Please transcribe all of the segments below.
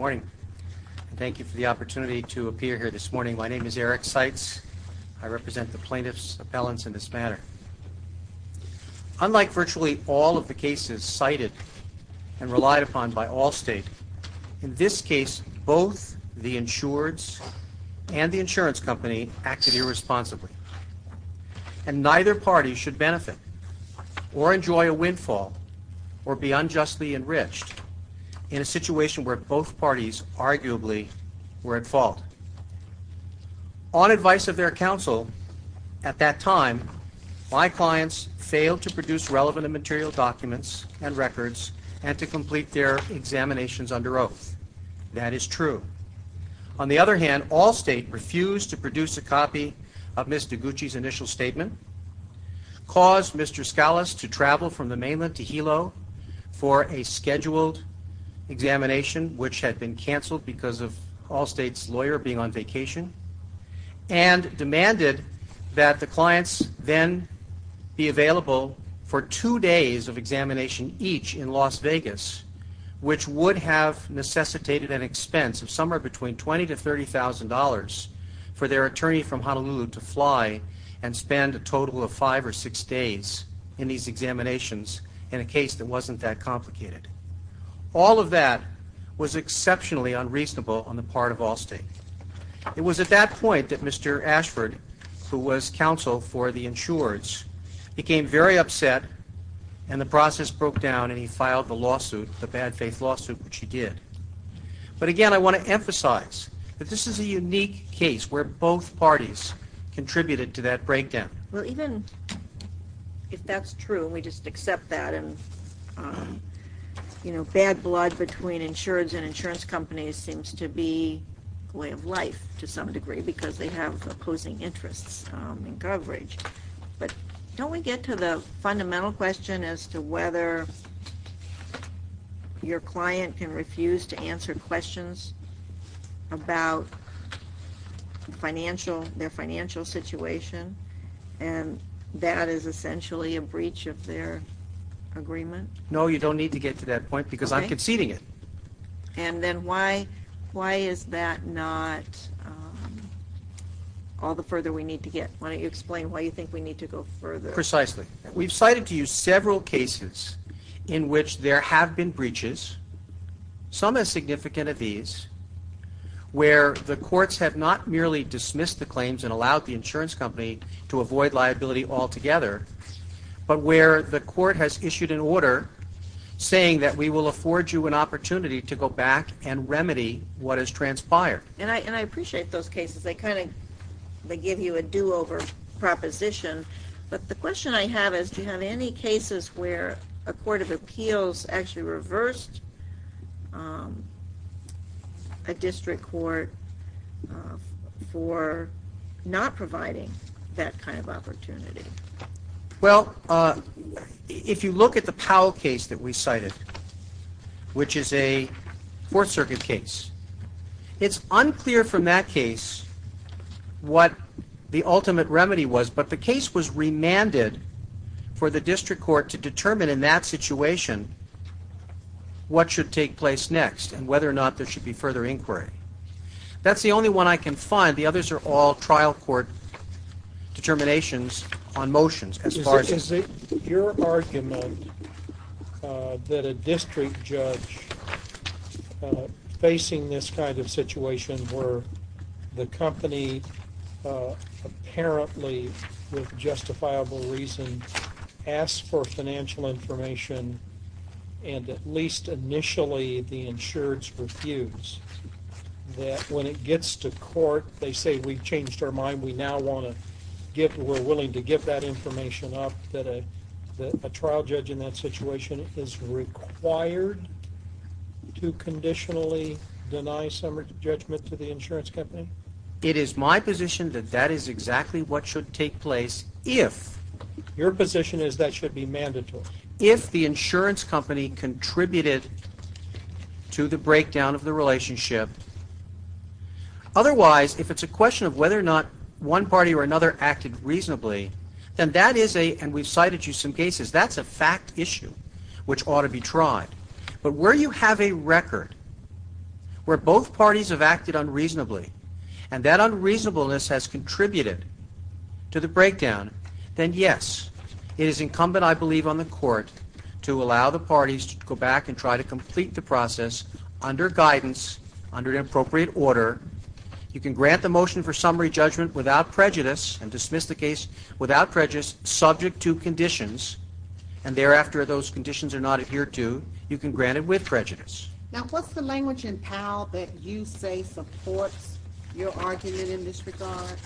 Good morning. Thank you for the opportunity to appear here this morning. My name is Eric Seitz. I represent the plaintiffs' appellants in this matter. Unlike virtually all of the cases cited and relied upon by Allstate, in this case, both the insureds and the insurance company acted irresponsibly, and neither party should benefit or enjoy a windfall or be unjustly enriched in a situation where both parties arguably were at fault. On advice of their counsel at that time, my clients failed to produce relevant and material documents and records and to complete their examinations under oath. That is true. On the other hand, Allstate refused to produce a copy of Ms. Deguchi's initial statement, caused Mr. Scalise to travel from the mainland to Hilo for a scheduled examination, which had been canceled because of Allstate's lawyer being on vacation, and demanded that the clients then be available for two days of examination each in Las Vegas, which would have necessitated an expense of somewhere between $20,000 to $30,000 for their attorney from Honolulu to fly and spend a total of five or six days in these examinations in a case that wasn't that complicated. All of that was exceptionally unreasonable on the part of Allstate. It was at that point that Mr. Ashford, who was counsel for the insureds, became very upset, and the process broke down, and he filed the lawsuit, the bad faith lawsuit, which he did. But again, I want to emphasize that this is a unique case where both parties contributed to that breakdown. Well, even if that's true, we just accept that, and bad blood between insureds and insurance companies seems to be a way of life to some degree because they have opposing interests in coverage. But don't we get to the fundamental question as to whether your client can refuse to answer questions about their financial situation, and that is essentially a breach of their agreement? No, you don't need to get to that point because I'm conceding it. And then why is that not all the further we need to get? Why don't you explain why you think we need to go further? Precisely. We've cited to you several cases in which there have been breaches, some as significant as these, where the courts have not merely dismissed the claims and allowed the insurance company to avoid liability altogether, but where the court has issued an order saying that we will afford you an opportunity to go back and remedy what has transpired. And I appreciate those cases. They kind of give you a do-over proposition. But the question I have is do you have any cases where a court of appeals actually reversed a district court for not providing that kind of opportunity? Well, if you look at the Powell case that we cited, which is a Fourth Circuit case, it's unclear from that case what the ultimate remedy was, but the case was remanded for the district court to determine in that situation what should take place next and whether or not there should be further inquiry. That's the only one I can find. The others are all trial court determinations on motions as far as the court. that a district judge facing this kind of situation where the company apparently, with justifiable reason, asks for financial information, and at least initially the insureds refuse, that when it gets to court, they say we've changed our mind, we're willing to give that information up, that a trial judge in that situation is required to conditionally deny some judgment to the insurance company? It is my position that that is exactly what should take place if... Your position is that should be mandatory. If the insurance company contributed to the breakdown of the relationship. Otherwise, if it's a question of whether or not one party or another acted reasonably, then that is a, and we've cited you some cases, that's a fact issue which ought to be tried. But where you have a record where both parties have acted unreasonably and that unreasonableness has contributed to the breakdown, then yes, it is incumbent, I believe, on the court to allow the parties to go back and try to complete the process under guidance, under the appropriate order. You can grant the motion for summary judgment without prejudice, and dismiss the case without prejudice, subject to conditions, and thereafter if those conditions are not adhered to, you can grant it with prejudice. Now what's the language in Powell that you say supports your argument in this regard?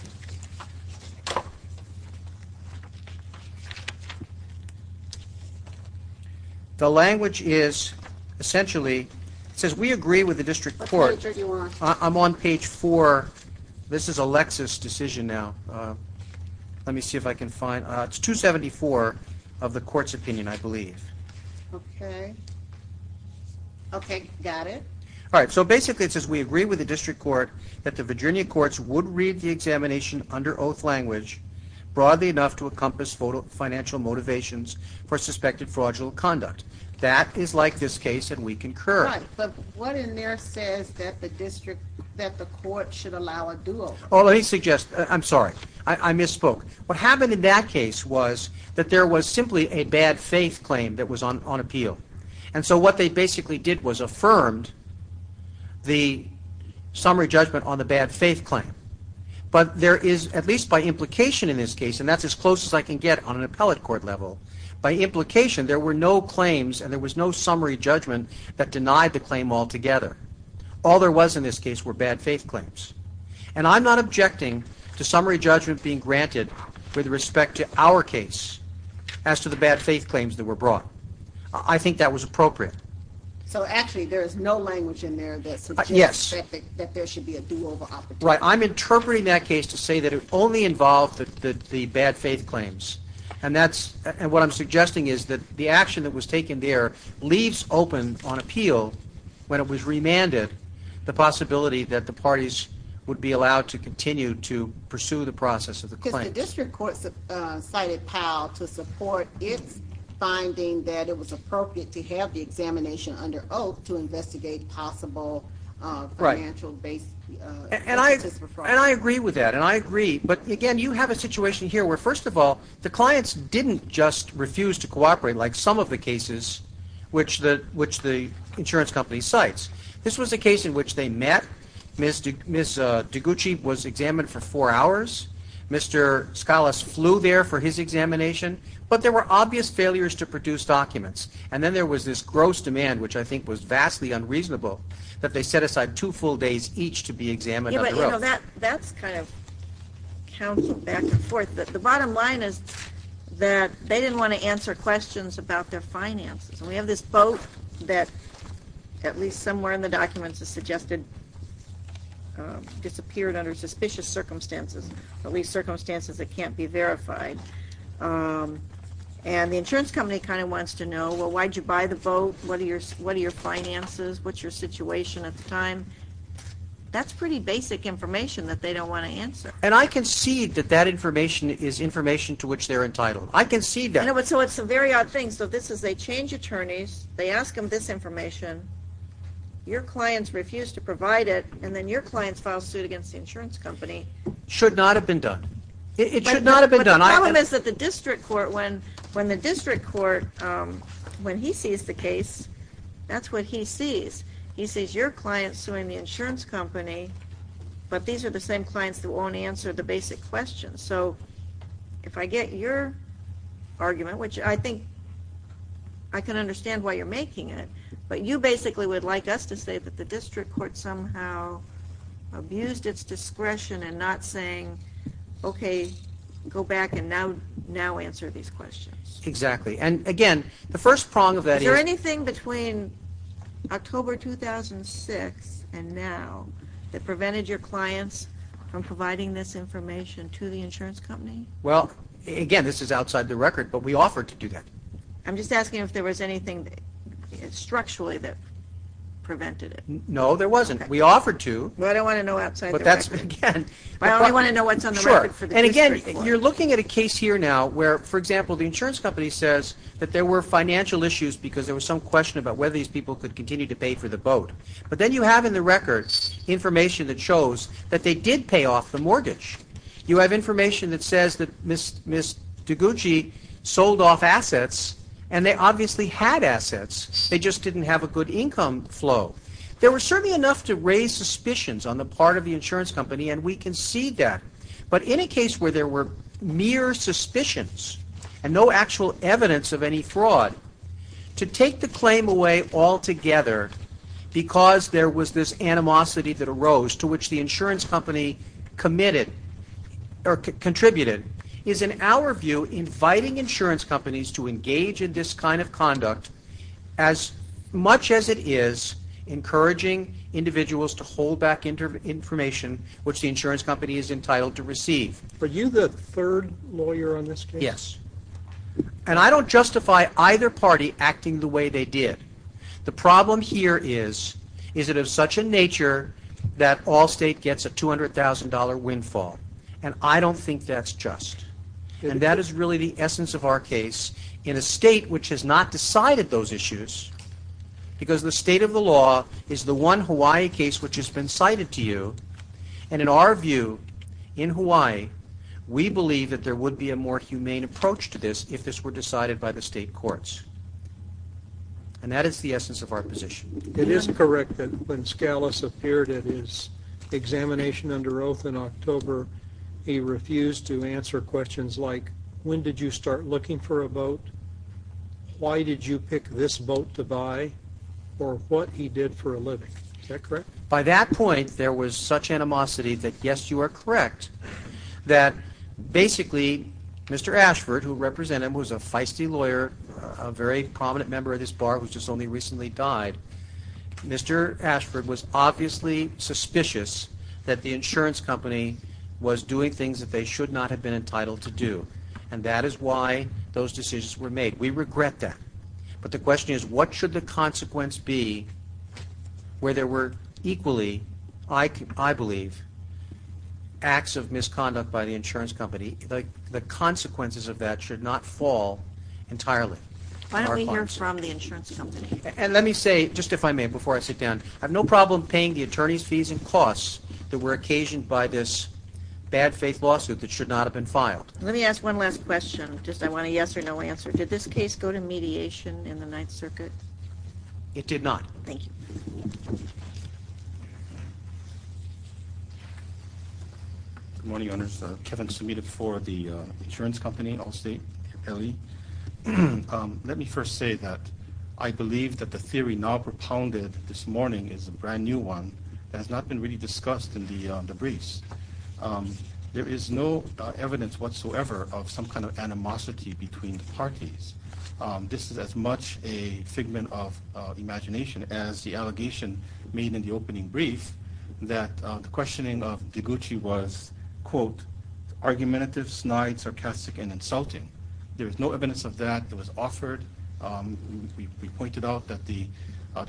The language is essentially, it says we agree with the district court. I'm on page four. This is a Lexis decision now. Let me see if I can find, it's 274 of the court's opinion, I believe. Okay. Okay, got it. All right, so basically it says we agree with the district court that the Virginia courts would read the examination under oath language broadly enough to encompass financial motivations for suspected fraudulent conduct. That is like this case, and we concur. All right, but what in there says that the district, that the court should allow a dual? Oh, let me suggest, I'm sorry, I misspoke. What happened in that case was that there was simply a bad faith claim that was on appeal. And so what they basically did was affirmed the summary judgment on the bad faith claim. But there is, at least by implication in this case, and that's as close as I can get on an appellate court level, by implication there were no claims and there was no summary judgment that denied the claim altogether. All there was in this case were bad faith claims. And I'm not objecting to summary judgment being granted with respect to our case as to the bad faith claims that were brought. I think that was appropriate. So actually there is no language in there that suggests that there should be a do-over opportunity. Right, I'm interpreting that case to say that it only involved the bad faith claims. And what I'm suggesting is that the action that was taken there leaves open on appeal, when it was remanded, the possibility that the parties would be allowed to continue to pursue the process of the claims. Because the district court cited Powell to support its finding that it was appropriate to have the examination under oath to investigate possible financial basis for fraud. And I agree with that. And I agree. But, again, you have a situation here where, first of all, the clients didn't just refuse to cooperate, like some of the cases which the insurance company cites. This was a case in which they met. Ms. DiGucci was examined for four hours. Mr. Scalas flew there for his examination. But there were obvious failures to produce documents. And then there was this gross demand, which I think was vastly unreasonable, that they set aside two full days each to be examined under oath. Yeah, but, you know, that's kind of counseled back and forth. But the bottom line is that they didn't want to answer questions about their finances. And we have this vote that, at least somewhere in the documents, is suggested disappeared under suspicious circumstances, at least circumstances that can't be verified. And the insurance company kind of wants to know, well, why did you buy the vote? What are your finances? What's your situation at the time? That's pretty basic information that they don't want to answer. And I concede that that information is information to which they're entitled. I concede that. So it's a very odd thing. So this is they change attorneys. They ask them this information. Your clients refuse to provide it. And then your clients file suit against the insurance company. Should not have been done. It should not have been done. The problem is that the district court, when the district court, when he sees the case, that's what he sees. He sees your client suing the insurance company, but these are the same clients that won't answer the basic questions. So if I get your argument, which I think I can understand why you're making it, but you basically would like us to say that the district court somehow abused its discretion and not saying, okay, go back and now answer these questions. Exactly. And, again, the first prong of that is. Is there anything between October 2006 and now that prevented your clients from providing this information to the insurance company? Well, again, this is outside the record, but we offered to do that. I'm just asking if there was anything structurally that prevented it. No, there wasn't. We offered to. Well, I don't want to know outside the record. But that's, again. I only want to know what's on the record for the district court. Sure. And, again, you're looking at a case here now where, for example, the insurance company says that there were financial issues because there was some question about whether these people could continue to pay for the boat. But then you have in the record information that shows that they did pay off the mortgage. You have information that says that Ms. DiGucci sold off assets, and they obviously had assets. They just didn't have a good income flow. There were certainly enough to raise suspicions on the part of the insurance company, and we concede that. But in a case where there were mere suspicions and no actual evidence of any fraud, to take the claim away altogether because there was this animosity that arose to which the insurance company committed or contributed is, in our view, inviting insurance companies to engage in this kind of conduct as much as it is encouraging individuals to hold back information which the insurance company is entitled to receive. Are you the third lawyer on this case? Yes. And I don't justify either party acting the way they did. The problem here is, is it of such a nature that all state gets a $200,000 windfall, and I don't think that's just. And that is really the essence of our case in a state which has not decided those issues because the state of the law is the one Hawaii case which has been cited to you, and in our view, in Hawaii, we believe that there would be a more humane approach to this if this were decided by the state courts. And that is the essence of our position. It is correct that when Scalise appeared at his examination under oath in October, he refused to answer questions like, when did you start looking for a boat, why did you pick this boat to buy, or what he did for a living. Is that correct? By that point, there was such animosity that, yes, you are correct, that basically Mr. Ashford, who represented him, was a feisty lawyer, a very prominent member of this bar who has just only recently died. Mr. Ashford was obviously suspicious that the insurance company was doing things that they should not have been entitled to do, and that is why those decisions were made. We regret that. But the question is, what should the consequence be where there were equally, I believe, acts of misconduct by the insurance company? The consequences of that should not fall entirely. Why don't we hear from the insurance company? And let me say, just if I may, before I sit down, I have no problem paying the attorney's fees and costs that were occasioned by this bad faith lawsuit that should not have been filed. Let me ask one last question. I want a yes or no answer. Did this case go to mediation in the Ninth Circuit? It did not. Thank you. Good morning, Your Honors. Kevin Sumida for the insurance company Allstate LE. Let me first say that I believe that the theory now propounded this morning is a brand-new one that has not been really discussed in the briefs. There is no evidence whatsoever of some kind of animosity between the parties. This is as much a figment of imagination as the allegation made in the opening brief that the questioning of Noguchi was, quote, argumentative, snide, sarcastic, and insulting. There is no evidence of that that was offered. We pointed out that the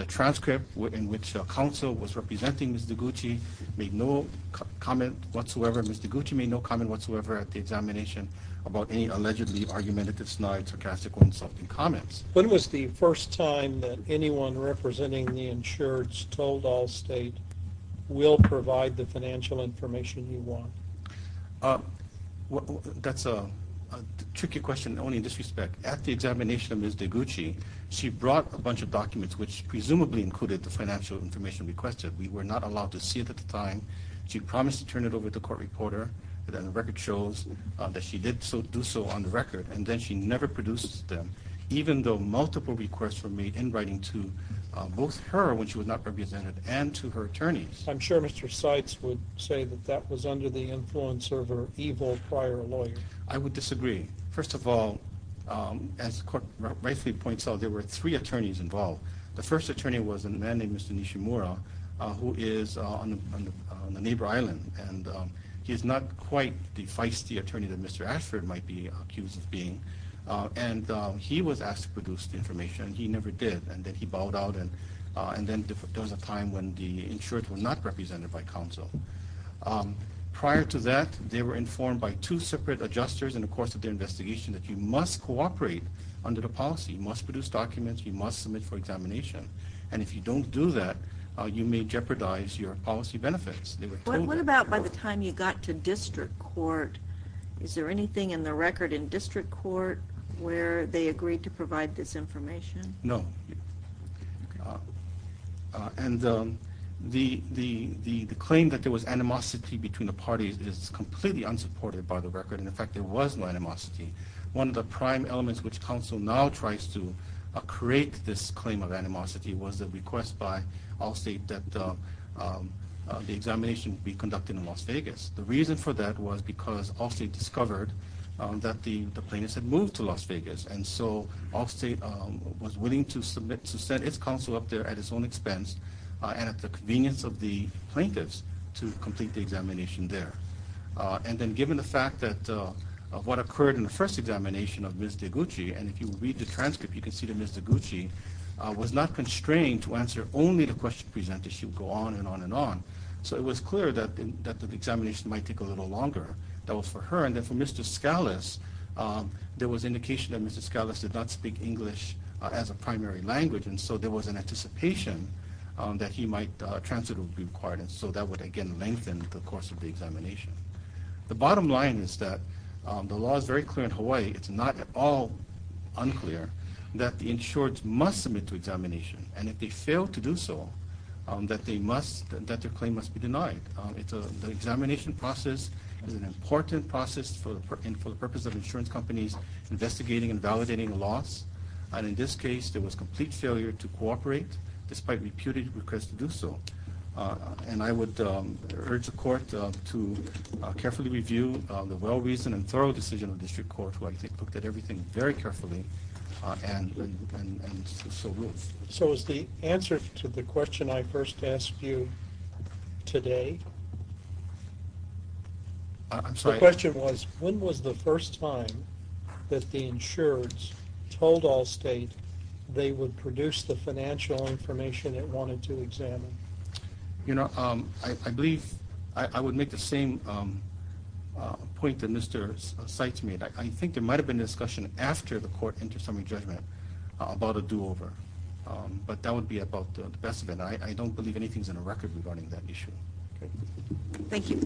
transcript in which counsel was representing Mr. Noguchi made no comment whatsoever. Mr. Noguchi made no comment whatsoever at the examination about any allegedly argumentative, snide, sarcastic, or insulting comments. When was the first time that anyone representing the insureds told Allstate, we'll provide the financial information you want? That's a tricky question only in this respect. At the examination of Ms. Noguchi, she brought a bunch of documents, which presumably included the financial information requested. We were not allowed to see it at the time. She promised to turn it over to a court reporter, but then the record shows that she did do so on the record, and then she never produced them, even though multiple requests were made in writing to both her, when she was not represented, and to her attorneys. I'm sure Mr. Seitz would say that that was under the influence of her evil prior lawyer. I would disagree. First of all, as the court rightfully points out, there were three attorneys involved. The first attorney was a man named Mr. Nishimura, who is on the neighbor island, and he is not quite the feisty attorney that Mr. Ashford might be accused of being, and he was asked to produce the information, and he never did, and then he bowed out, and then there was a time when the insureds were not represented by counsel. Prior to that, they were informed by two separate adjusters in the course of their investigation that you must cooperate under the policy. You must produce documents. You must submit for examination, and if you don't do that, you may jeopardize your policy benefits. What about by the time you got to district court? Is there anything in the record in district court where they agreed to provide this information? No. And the claim that there was animosity between the parties is completely unsupported by the record, and, in fact, there was no animosity. One of the prime elements which counsel now tries to create this claim of animosity was a request by Allstate that the examination be conducted in Las Vegas. The reason for that was because Allstate discovered that the plaintiffs had moved to Las Vegas, and so Allstate was willing to submit, to send its counsel up there at its own expense and at the convenience of the plaintiffs to complete the examination there. And then given the fact that what occurred in the first examination of Ms. Deguchi, and if you read the transcript, you can see that Ms. Deguchi was not constrained to answer only the questions presented. She would go on and on and on. So it was clear that the examination might take a little longer. That was for her. And then for Mr. Scalise, there was indication that Mr. Scalise did not speak English as a primary language, and so there was an anticipation that he might transfer the required, and so that would, again, lengthen the course of the examination. The bottom line is that the law is very clear in Hawaii. It's not at all unclear that the insured must submit to examination, and if they fail to do so, that their claim must be denied. It's an examination process. It's an important process for the purpose of insurance companies investigating and validating loss. And in this case, there was complete failure to cooperate despite reputed requests to do so. And I would urge the Court to carefully review the well-reasoned and thorough decision of the District Court, who I think looked at everything very carefully and so will. So is the answer to the question I first asked you today? I'm sorry. The question was, when was the first time that the insureds told Allstate they would produce the financial information it wanted to examine? You know, I believe I would make the same point that Mr. Seitz made. I think there might have been a discussion after the Court entered summary judgment about a do-over, but that would be about the best of it. I don't believe anything is on the record regarding that issue. Thank you.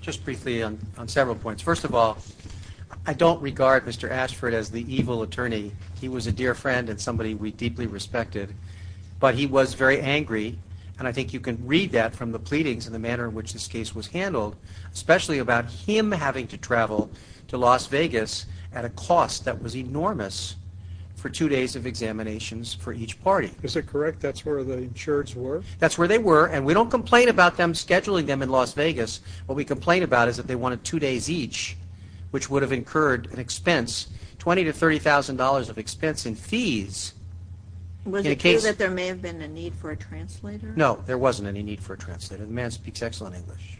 Just briefly on several points. First of all, I don't regard Mr. Ashford as the evil attorney. He was a dear friend and somebody we deeply respected, but he was very angry, and I think you can read that from the pleadings and the manner in which this case was handled, especially about him having to travel to Las Vegas at a cost that was enormous for two days of examinations for each party. Is that correct? That's where the insureds were? That's where they were, and we don't complain about them scheduling them in Las Vegas. What we complain about is that they wanted two days each, which would have incurred an expense, $20,000 to $30,000 of expense and fees. Was it true that there may have been a need for a translator? No, there wasn't any need for a translator. The man speaks excellent English.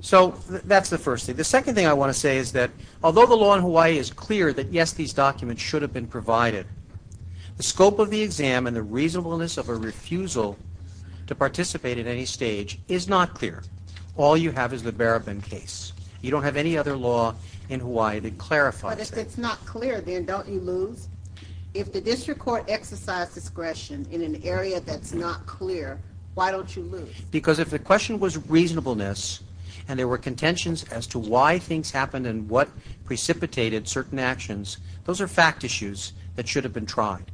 So that's the first thing. The second thing I want to say is that although the law in Hawaii is clear that, yes, these documents should have been provided, the scope of the exam and the reasonableness of a refusal to participate at any stage is not clear. All you have is the Barabin case. You don't have any other law in Hawaii that clarifies that. Well, if it's not clear, then don't you lose? If the district court exercised discretion in an area that's not clear, why don't you lose? Because if the question was reasonableness and there were contentions as to why things happened and what precipitated certain actions, those are fact issues that should have been tried.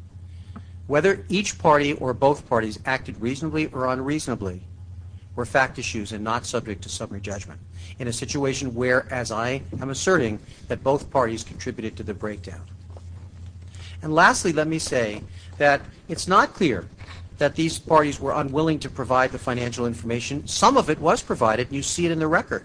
Whether each party or both parties acted reasonably or unreasonably were fact issues and not subject to summary judgment. In a situation where, as I am asserting, that both parties contributed to the breakdown. And lastly, let me say that it's not clear that these parties were unwilling to provide the financial information. Some of it was provided. You see it in the record.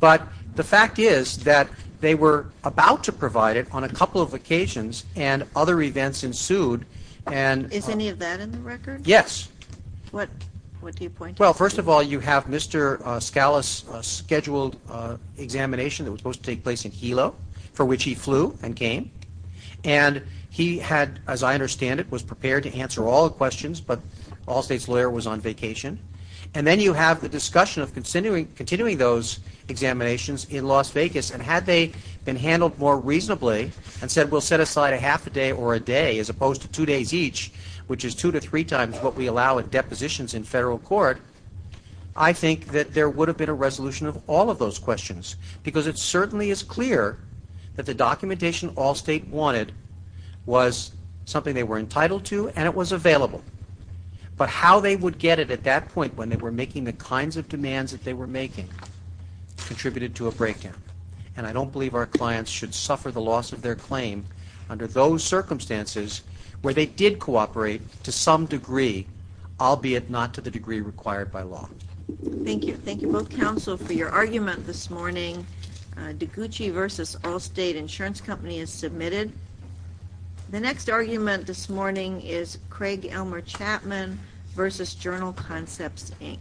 But the fact is that they were about to provide it on a couple of occasions and other events ensued. Is any of that in the record? Yes. What do you point to? Well, first of all, you have Mr. Scalise's scheduled examination that was supposed to take place in Hilo, for which he flew and came. And he had, as I understand it, was prepared to answer all the questions, but Allstate's lawyer was on vacation. And then you have the discussion of continuing those examinations in Las Vegas. And had they been handled more reasonably and said, we'll set aside a half a day or a day as opposed to two days each, which is two to three times what we allow at depositions in federal court, I think that there would have been a resolution of all of those questions because it certainly is clear that the documentation Allstate wanted was something they were entitled to and it was available. But how they would get it at that point when they were making the kinds of demands that they were making contributed to a breakdown. And I don't believe our clients should suffer the loss of their claim under those circumstances where they did cooperate to some degree, albeit not to the degree required by law. Thank you. Thank you both, counsel, for your argument this morning. Degucci v. Allstate Insurance Company is submitted. The next argument this morning is Craig Elmer Chapman v. Journal Concepts, Inc. Thank you.